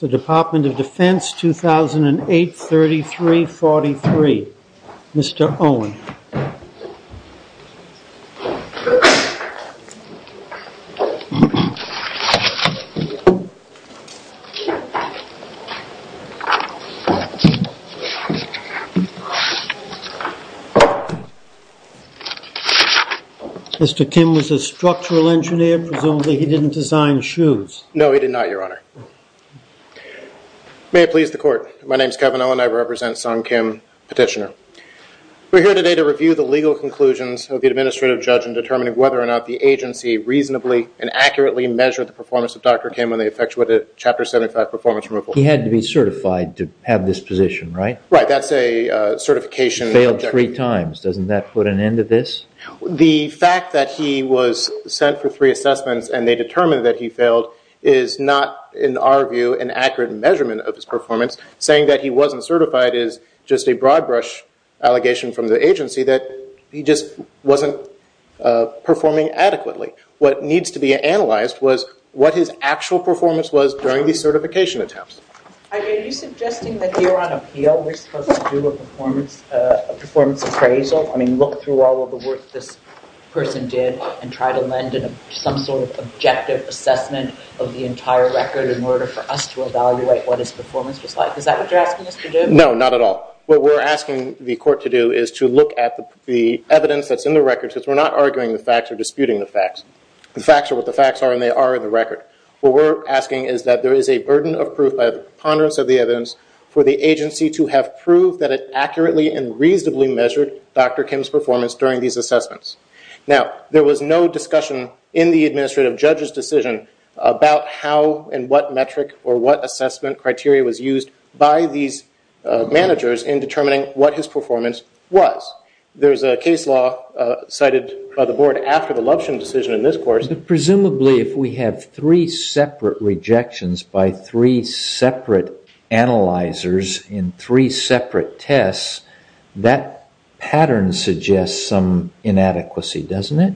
The Department of Defense, 2008, 33-43. Mr. Owen. Mr. Kim was a structural engineer. Presumably he didn't design shoes. No, he did not, your honor. May it please the court. My name is Kevin Owen. I represent Sung Kim, petitioner. We're here today to review the legal conclusions of the administrative judge in determining whether or not the agency reasonably and accurately measured the performance of Dr. Kim when they effectuated Chapter 75 performance removal. He had to be certified to have this position, right? Right. That's a certification. Failed three times. Doesn't that put an end to this? The fact that he was sent for three assessments and they determined that he failed is not, in our view, an accurate measurement of his performance. Saying that he wasn't certified is just a broad brush allegation from the agency that he just wasn't performing adequately. What needs to be analyzed was what his actual performance was during the certification attempts. Are you suggesting that here on appeal we're supposed to do a performance appraisal? I mean, look through all of the work this person did and try to lend some sort of objective assessment of the entire record in order for us to evaluate what his performance was like. Is that what you're asking us to do? No, not at all. What we're asking the court to do is to look at the evidence that's in the record because we're not arguing the facts or disputing the facts. The facts are what the facts are and they are in the record. What we're asking is that there is a burden of proof by the preponderance of the evidence for the agency to have proof that it accurately and reasonably measured Dr. Kim's performance during these assessments. Now, there was no discussion in the administrative judge's decision about how and what metric or what assessment criteria was used by these managers in determining what his performance was. There's a case law cited by the board after the Luption decision in this court. Presumably if we have three separate rejections by three separate analyzers in three separate tests, that pattern suggests some inadequacy, doesn't it?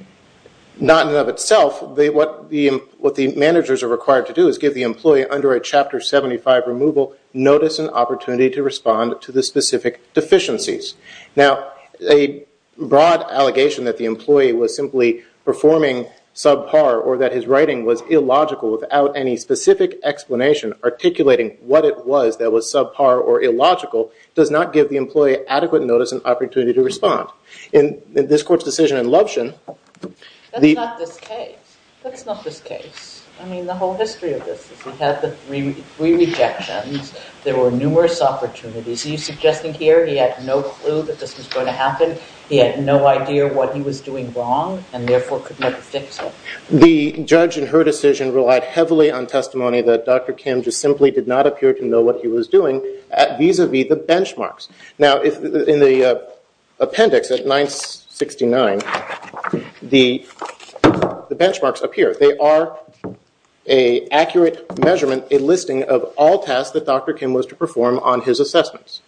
Not in and of itself. What the managers are required to do is give the employee under a Chapter 75 removal notice and opportunity to respond to the specific deficiencies. Now, a broad allegation that the employee was simply performing subpar or that his writing was illogical without any specific explanation articulating what it was that was subpar or illogical does not give the employee adequate notice and opportunity to respond. In this court's decision in Luption, the- That's not this case. That's not this case. I mean, the whole history of this is we had the three rejections. There were numerous opportunities. Is he suggesting here he had no clue that this was going to happen? He had no idea what he was doing wrong and therefore could never fix it? The judge in her decision relied heavily on testimony that Dr. Kim just simply did not appear to know what he was doing vis-a-vis the benchmarks. Now, in the appendix at 969, the benchmarks appear. They are an accurate measurement, a listing of all tasks that Dr. Kim was to perform on his assessments.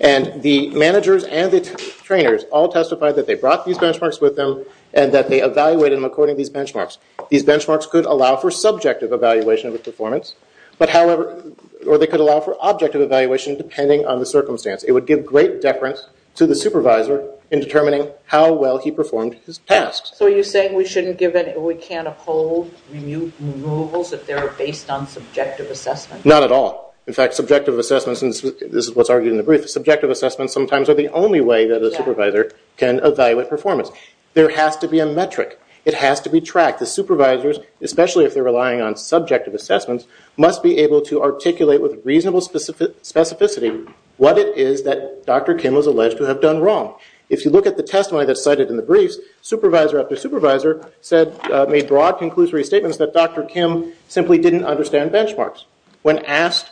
And the managers and the trainers all testified that they brought these benchmarks with them and that they evaluated them according to these benchmarks. These benchmarks could allow for subjective evaluation of a performance, or they could allow for objective evaluation depending on the circumstance. It would give great deference to the supervisor in determining how well he performed his tasks. So are you saying we shouldn't give- we can't uphold removals if they're based on subjective assessments? Not at all. In fact, subjective assessments, and this is what's argued in the brief, subjective assessments sometimes are the only way that a supervisor can evaluate performance. There has to be a metric. It has to be tracked. The supervisors, especially if they're relying on subjective assessments, must be able to articulate with reasonable specificity what it is that Dr. Kim was alleged to have done wrong. If you look at the testimony that's cited in the briefs, supervisor after supervisor said- made broad conclusory statements that Dr. Kim simply didn't understand benchmarks. When asked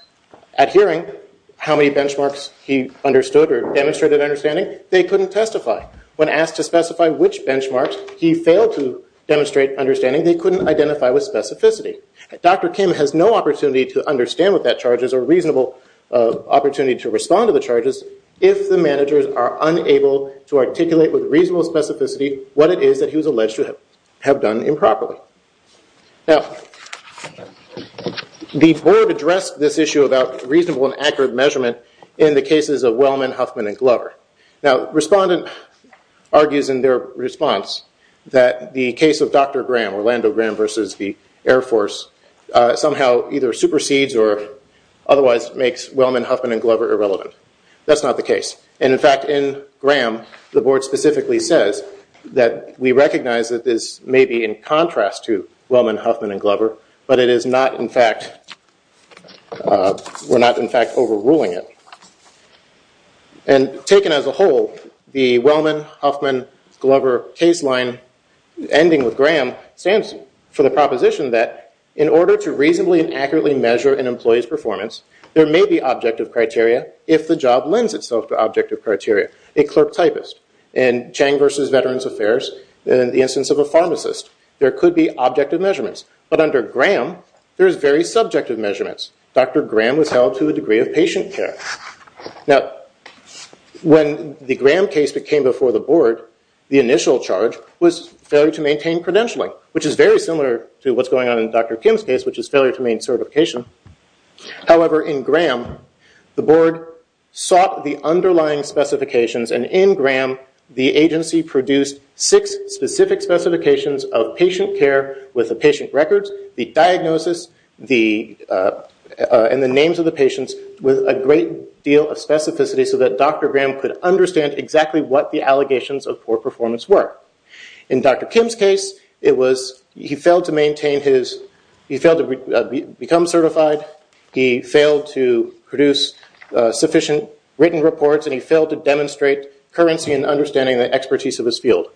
at hearing how many benchmarks he understood or demonstrated understanding, they couldn't testify. When asked to specify which benchmarks he failed to demonstrate understanding, they couldn't identify with specificity. Dr. Kim has no opportunity to understand what that charge is, or reasonable opportunity to respond to the charges, if the managers are unable to articulate with reasonable specificity what it is that he was alleged to have done improperly. Now, the board addressed this issue about reasonable and accurate measurement in the cases of Wellman, Huffman, and Glover. Now, respondent argues in their response that the case of Dr. Graham, Orlando Graham versus the Air Force, somehow either supersedes or otherwise makes Wellman, Huffman, and Glover irrelevant. That's not the case. In fact, in Graham, the board specifically says that we recognize that this may be in contrast to Wellman, Huffman, and Glover, but it is not in fact- we're not in fact overruling it. And taken as a whole, the Wellman, Huffman, Glover case line ending with Graham stands for the proposition that in order to reasonably and accurately measure an employee's performance, there may be objective criteria if the job lends itself to objective criteria. A clerk typist in Chang versus Veterans Affairs, in the instance of a pharmacist, there could be objective measurements. But under Graham, there's very subjective measurements. Dr. Graham was held to a degree of patient care. Now, when the Graham case came before the board, the initial charge was failure to maintain credentialing, which is very similar to what's going on in Dr. Kim's case, which is failure to maintain certification. However, in Graham, the board sought the underlying specifications, and in Graham, the agency produced six specific specifications of patient care with the patient records, the diagnosis, and the names of the patients with a great deal of specificity so that Dr. Graham could understand exactly what the allegations of poor performance were. In Dr. Kim's case, he failed to become certified, he failed to produce sufficient written reports, and he failed to demonstrate currency in understanding the expertise of his field.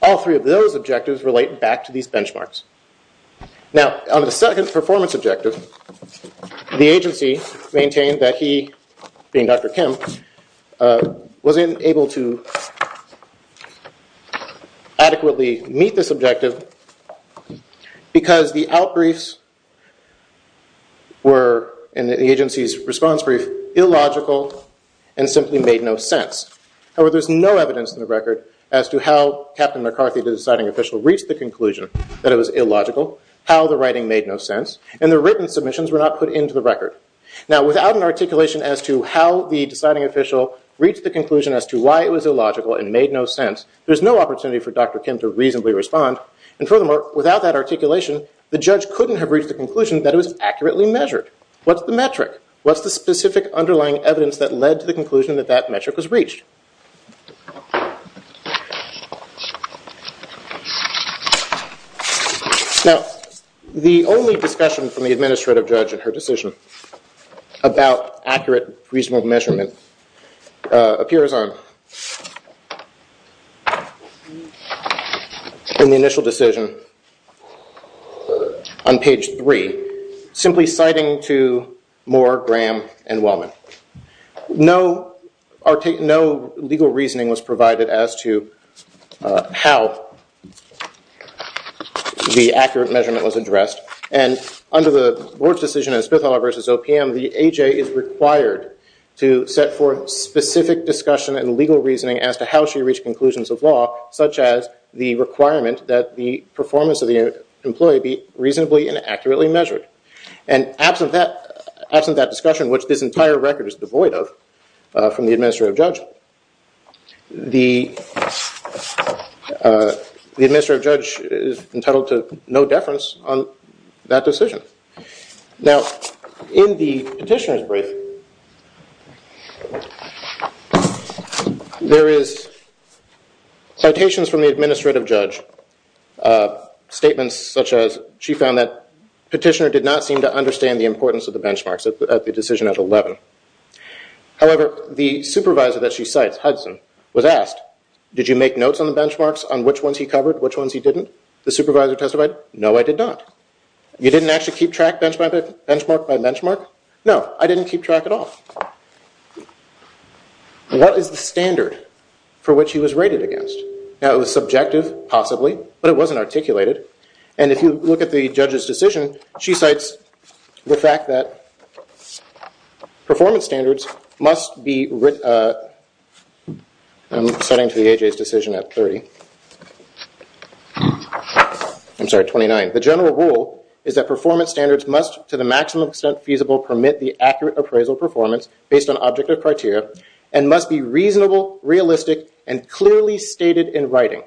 All three of those objectives relate back to these benchmarks. Now, on the second performance objective, the agency maintained that he, being Dr. Kim, was unable to adequately meet this objective because the outbriefs were, in the agency's response brief, illogical and simply made no sense. However, there's no evidence in the record as to how Captain McCarthy, the deciding official, reached the conclusion that it was illogical, how the writing made no sense, and the written submissions were not put into the record. Now, without an articulation as to how the deciding official reached the conclusion as to why it was illogical and made no sense, there's no opportunity for Dr. Kim to reasonably respond, and furthermore, without that articulation, the judge couldn't have reached the conclusion that it was accurately measured. What's the metric? What's the specific underlying evidence that led to the conclusion that that metric was reached? Now, the only discussion from the administrative judge in her decision about accurate, reasonable measurement appears in the initial decision on page three, simply citing to Moore, Graham, and Wellman. No legal reasoning was provided as to how the accurate measurement was addressed, and under the board's decision in Spithall v. OPM, the A.J. is required to set forth specific discussion and legal reasoning as to how she reached conclusions of law, such as the requirement that the performance of the employee be reasonably and accurately measured. And absent that discussion, which this entire record is devoid of from the administrative judge, the administrative judge is entitled to no deference on that decision. Now, in the petitioner's brief, there is citations from the administrative judge, statements such as she found that petitioner did not seem to understand the importance of the benchmarks at the decision at 11. However, the supervisor that she cites, Hudson, was asked, did you make notes on the benchmarks on which ones he covered, which ones he didn't? The supervisor testified, no, I did not. You didn't actually keep track benchmark by benchmark? No, I didn't keep track at all. What is the standard for which he was rated against? Now, it was subjective, possibly, but it wasn't articulated, and if you look at the judge's decision, she cites the fact that performance standards must be, I'm citing to the AJ's decision at 30, I'm sorry, 29. The general rule is that performance standards must, to the maximum extent feasible, permit the accurate appraisal performance based on objective criteria and must be reasonable, realistic, and clearly stated in writing.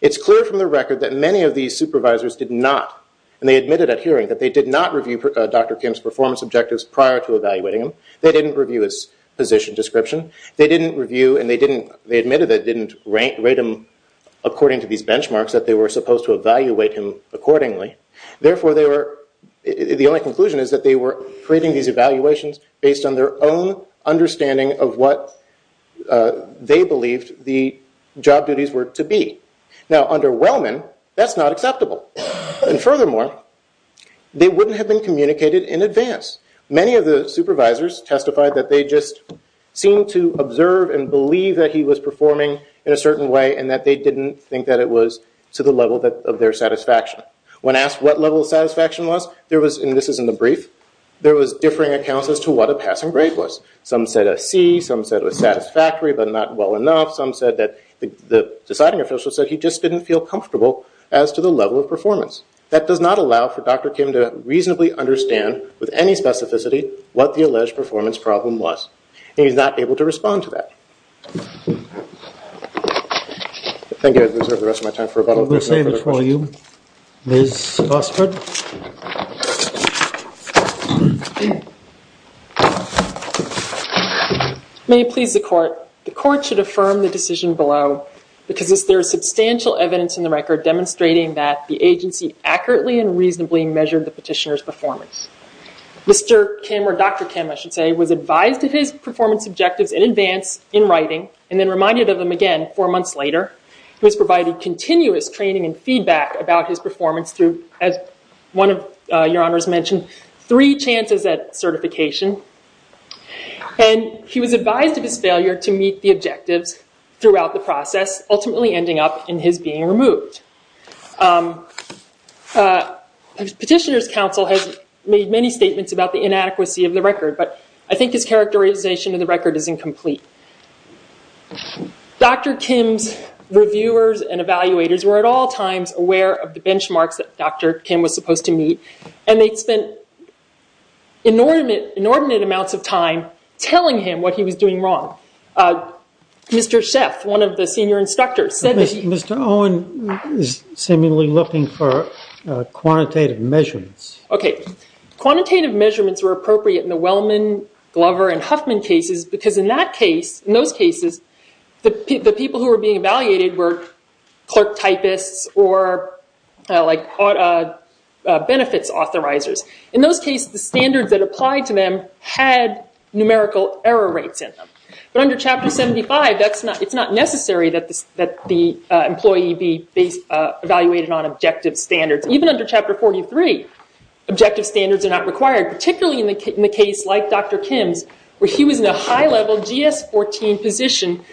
It's clear from the record that many of these supervisors did not, and they admitted at hearing that they did not review Dr. Kim's performance objectives prior to evaluating him. They didn't review his position description. They didn't review and they admitted they didn't rate him according to these benchmarks, that they were supposed to evaluate him accordingly. Therefore, the only conclusion is that they were creating these evaluations based on their own understanding of what they believed the job duties were to be. Now, under Wellman, that's not acceptable. And furthermore, they wouldn't have been communicated in advance. Many of the supervisors testified that they just seemed to observe and believe that he was performing in a certain way and that they didn't think that it was to the level of their satisfaction. When asked what level of satisfaction was, there was, and this is in the brief, there was differing accounts as to what a passing grade was. Some said a C. Some said it was satisfactory, but not well enough. Some said that the deciding official said he just didn't feel comfortable as to the level of performance. That does not allow for Dr. Kim to reasonably understand with any specificity what the alleged performance problem was. And he's not able to respond to that. Thank you. I reserve the rest of my time for rebuttal. I'm going to save it for you, Ms. Osbert. May it please the court. The court should affirm the decision below because there is substantial evidence in the record demonstrating that the agency accurately and reasonably measured the petitioner's performance. Mr. Kim, or Dr. Kim, I should say, was advised of his performance objectives in advance, in writing, and then reminded of them again four months later. He was provided continuous training and feedback about his performance through, as one of your honors mentioned, three chances at certification. And he was advised of his failure to meet the objectives throughout the process, ultimately ending up in his being removed. Petitioner's counsel has made many statements about the inadequacy of the record, but I think his characterization of the record is incomplete. Dr. Kim's reviewers and evaluators were at all times aware of the benchmarks that Dr. Kim was supposed to meet, and they'd spent inordinate amounts of time telling him what he was doing wrong. Mr. Sheff, one of the senior instructors, said that he- Mr. Owen is seemingly looking for quantitative measurements. Okay. Quantitative measurements were appropriate in the Wellman, Glover, and Huffman cases because in that case, in those cases, the people who were being evaluated were clerk typists or benefits authorizers. In those cases, the standards that applied to them had numerical error rates in them. But under Chapter 75, it's not necessary that the employee be evaluated on objective standards. Even under Chapter 43, objective standards are not required, particularly in the case like Dr. Kim's, where he was in a high-level GS-14 position,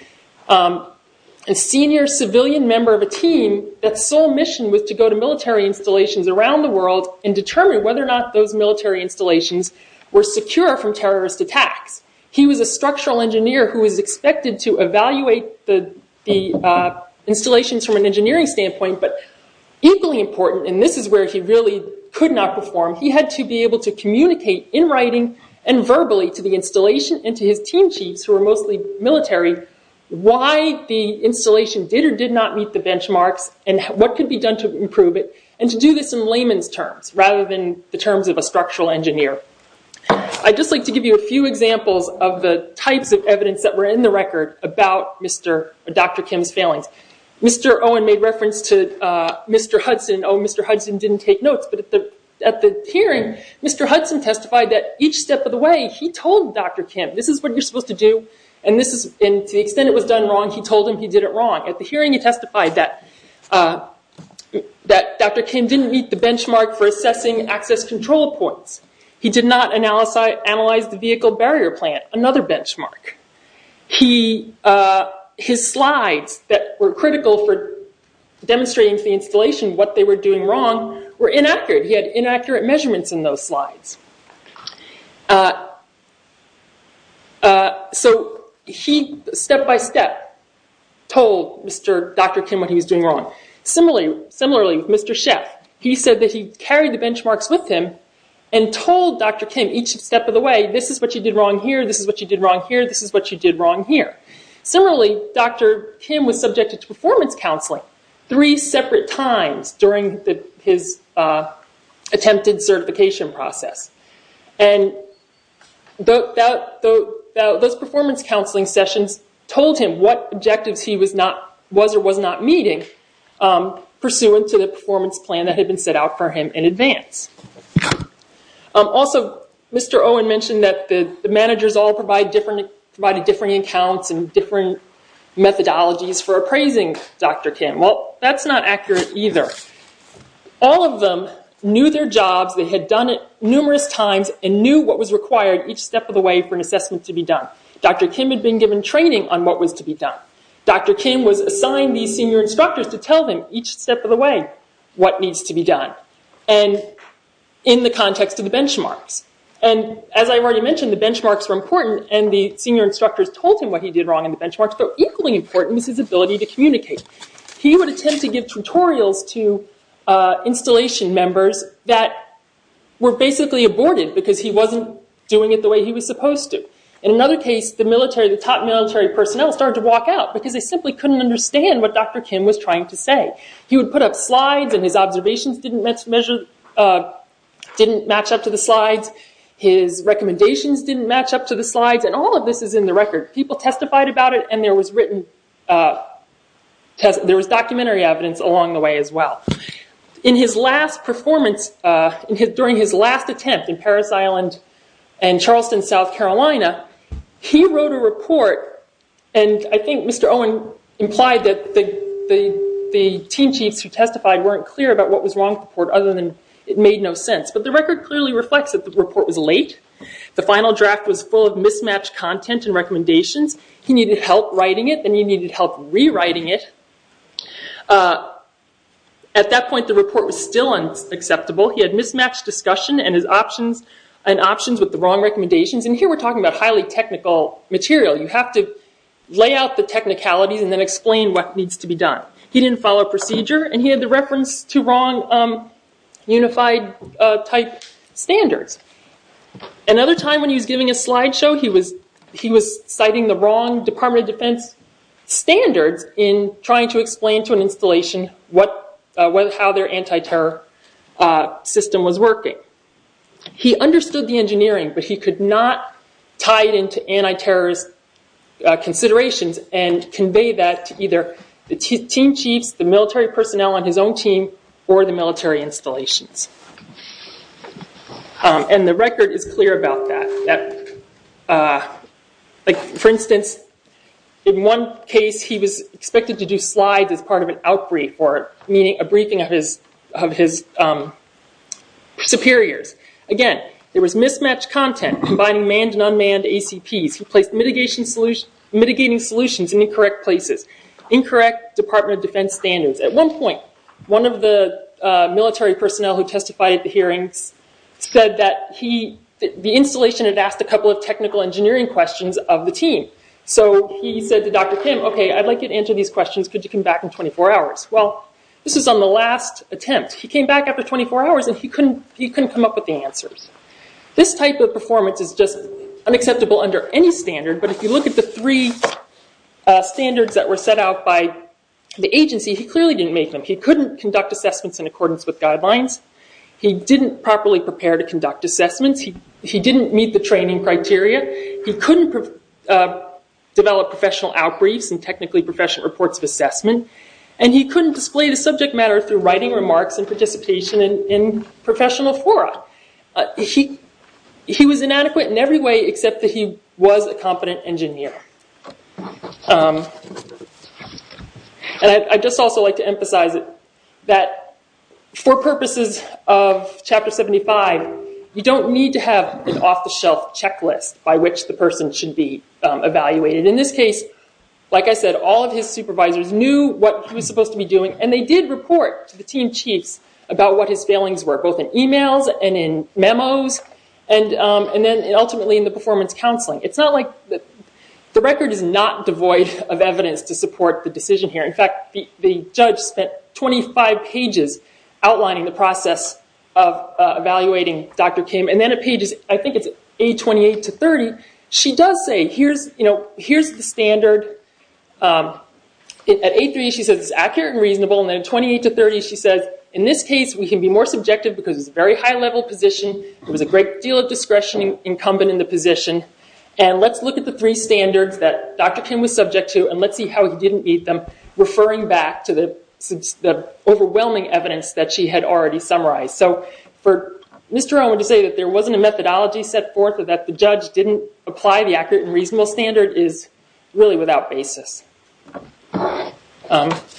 a senior civilian member of a team that's sole mission was to go to military installations around the world and determine whether or not those military installations were secure from terrorist attacks. He was a structural engineer who was expected to evaluate the installations from an engineering standpoint, but equally important, and this is where he really could not perform, he had to be able to communicate in writing and verbally to the installation and to his team chiefs, who were mostly military, why the installation did or did not meet the benchmarks and what could be done to improve it, and to do this in layman's terms, rather than the terms of a structural engineer. I'd just like to give you a few examples of the types of evidence that were in the record about Dr. Kim's failings. Mr. Owen made reference to Mr. Hudson. Oh, Mr. Hudson didn't take notes, but at the hearing, Mr. Hudson testified that each step of the way, he told Dr. Kim, this is what you're supposed to do, and to the extent it was done wrong, he told him he did it wrong. At the hearing, he testified that Dr. Kim didn't meet the benchmark for assessing access control points. He did not analyze the vehicle barrier plant, another benchmark. His slides that were critical for demonstrating to the installation what they were doing wrong were inaccurate. He had inaccurate measurements in those slides. So he, step by step, told Dr. Kim what he was doing wrong. Similarly, Mr. Sheff, he said that he carried the benchmarks with him and told Dr. Kim each step of the way, this is what you did wrong here, this is what you did wrong here, this is what you did wrong here. Similarly, Dr. Kim was subjected to performance counseling three separate times during his attempted certification process. And those performance counseling sessions told him what objectives he was or was not meeting, pursuant to the performance plan that had been set out for him in advance. Also, Mr. Owen mentioned that the managers all provided different accounts and different methodologies for appraising Dr. Kim. Well, that's not accurate either. All of them knew their jobs. They had done it numerous times and knew what was required each step of the way for an assessment to be done. Dr. Kim had been given training on what was to be done. Dr. Kim was assigned these senior instructors to tell them each step of the way what needs to be done. And in the context of the benchmarks. And as I've already mentioned, the benchmarks were important and the senior instructors told him what he did wrong in the benchmarks, but equally important was his ability to communicate. He would attempt to give tutorials to installation members that were basically aborted because he wasn't doing it the way he was supposed to. In another case, the top military personnel started to walk out because they simply couldn't understand what Dr. Kim was trying to say. He would put up slides and his observations didn't match up to the slides. His recommendations didn't match up to the slides. And all of this is in the record. People testified about it and there was written, there was documentary evidence along the way as well. In his last performance, during his last attempt in Parris Island and Charleston, South Carolina, he wrote a report. And I think Mr. Owen implied that the team chiefs who testified weren't clear about what was wrong with the report other than it made no sense. But the record clearly reflects that the report was late. The final draft was full of mismatched content and recommendations. He needed help writing it and he needed help rewriting it. At that point, the report was still unacceptable. He had mismatched discussion and options with the wrong recommendations. And here we're talking about highly technical material. You have to lay out the technicalities and then explain what needs to be done. He didn't follow procedure and he had the reference to wrong unified type standards. Another time when he was giving a slideshow, he was citing the wrong Department of Defense standards in trying to explain to an installation how their anti-terror system was working. He understood the engineering, but he could not tie it into anti-terrorist considerations and convey that to either the team chiefs, the military personnel on his own team, or the military installations. And the record is clear about that. For instance, in one case he was expected to do slides as part of an outbrief or a briefing of his superiors. Again, there was mismatched content combining manned and unmanned ACPs. He placed mitigating solutions in incorrect places. Incorrect Department of Defense standards. At one point, one of the military personnel who testified at the hearings said that the installation had asked a couple of technical engineering questions of the team. So he said to Dr. Kim, okay, I'd like you to answer these questions. Could you come back in 24 hours? Well, this was on the last attempt. He came back after 24 hours and he couldn't come up with the answers. This type of performance is just unacceptable under any standard. But if you look at the three standards that were set out by the agency, he clearly didn't make them. He couldn't conduct assessments in accordance with guidelines. He didn't properly prepare to conduct assessments. He didn't meet the training criteria. He couldn't develop professional outbriefs and technically professional reports of assessment. And he couldn't display the subject matter through writing remarks and participation in professional fora. He was inadequate in every way except that he was a competent engineer. And I'd just also like to emphasize that for purposes of Chapter 75, you don't need to have an off-the-shelf checklist by which the person should be evaluated. In this case, like I said, all of his supervisors knew what he was supposed to be doing. And they did report to the team chiefs about what his failings were, both in emails and in memos and then ultimately in the performance counseling. It's not like the record is not devoid of evidence to support the decision here. In fact, the judge spent 25 pages outlining the process of evaluating Dr. Kim. And then at pages, I think it's A28 to 30, she does say, here's the standard. At A3, she says it's accurate and reasonable. And then at 28 to 30, she says, in this case, we can be more subjective because it's a very high-level position. There was a great deal of discretion incumbent in the position. And let's look at the three standards that Dr. Kim was subject to and let's see how he didn't meet them, referring back to the overwhelming evidence that she had already summarized. So for Mr. Owen to say that there wasn't a methodology set forth or that the judge didn't apply the accurate and reasonable standard is really without basis.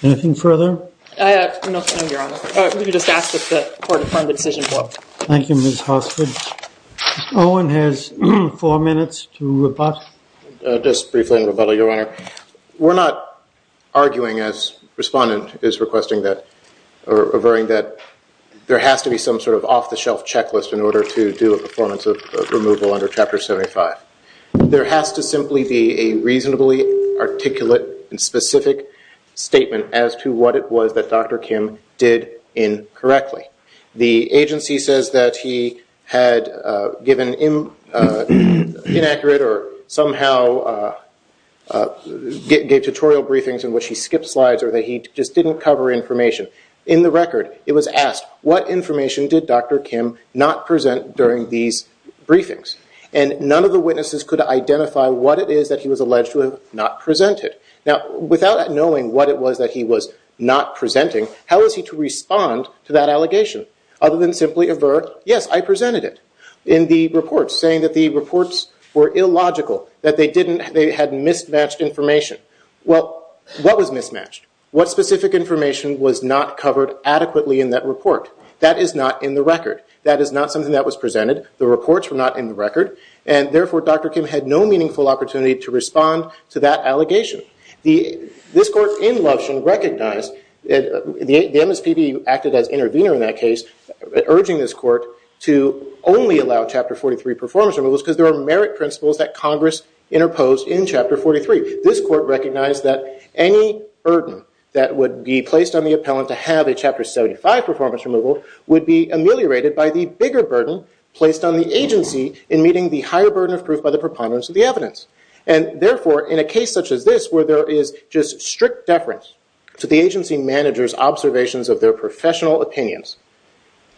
Anything further? No, Your Honor. We can just ask that the court affirm the decision. Thank you, Ms. Hossford. Owen has four minutes to rebut. Just briefly and rebuttal, Your Honor. We're not arguing, as Respondent is requesting that, or referring that there has to be some sort of off-the-shelf checklist in order to do a performance of removal under Chapter 75. There has to simply be a reasonably articulate and specific statement as to what it was that Dr. Kim did incorrectly. The agency says that he had given inaccurate or somehow gave tutorial briefings in which he skipped slides or that he just didn't cover information. In the record, it was asked, what information did Dr. Kim not present during these briefings? And none of the witnesses could identify what it is that he was alleged to have not presented. Now, without knowing what it was that he was not presenting, how was he to respond to that allegation? Other than simply avert, yes, I presented it. In the report, saying that the reports were illogical, that they had mismatched information. Well, what was mismatched? What specific information was not covered adequately in that report? That is not in the record. That is not something that was presented. The reports were not in the record. And therefore, Dr. Kim had no meaningful opportunity to respond to that allegation. This court in Lovshin recognized that the MSPB acted as intervener in that case, urging this court to only allow Chapter 43 performance removals because there are merit principles that Congress interposed in Chapter 43. This court recognized that any burden that would be placed on the appellant to have a Chapter 75 performance removal would be ameliorated by the bigger burden placed on the agency in meeting the higher burden of proof by the preponderance of the evidence. And therefore, in a case such as this, where there is just strict deference to the agency manager's observations of their professional opinions,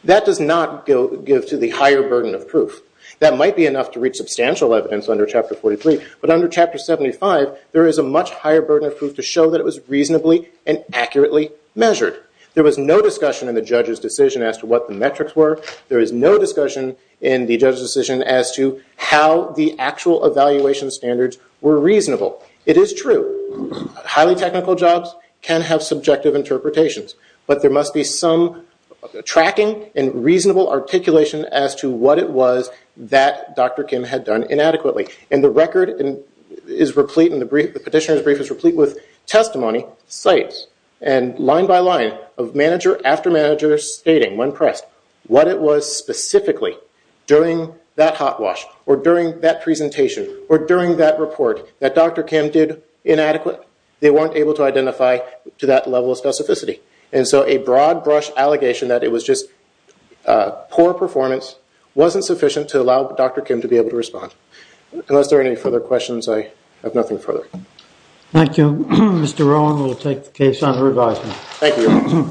that does not give to the higher burden of proof. That might be enough to reach substantial evidence under Chapter 43, but under Chapter 75, there is a much higher burden of proof to show that it was reasonably and accurately measured. There was no discussion in the judge's decision as to what the metrics were. There was no discussion in the judge's decision as to how the actual evaluation standards were reasonable. It is true. Highly technical jobs can have subjective interpretations, but there must be some tracking and reasonable articulation as to what it was that Dr. Kim had done inadequately. And the record is replete and the petitioner's brief is replete with testimony, sites, and line by line of manager after manager stating when pressed what it was specifically during that hot wash, or during that presentation, or during that report that Dr. Kim did inadequate. They weren't able to identify to that level of specificity. And so a broad brush allegation that it was just poor performance wasn't sufficient to allow Dr. Kim to be able to respond. Unless there are any further questions, I have nothing further. Thank you. Mr. Rowan will take the case on revising. Thank you.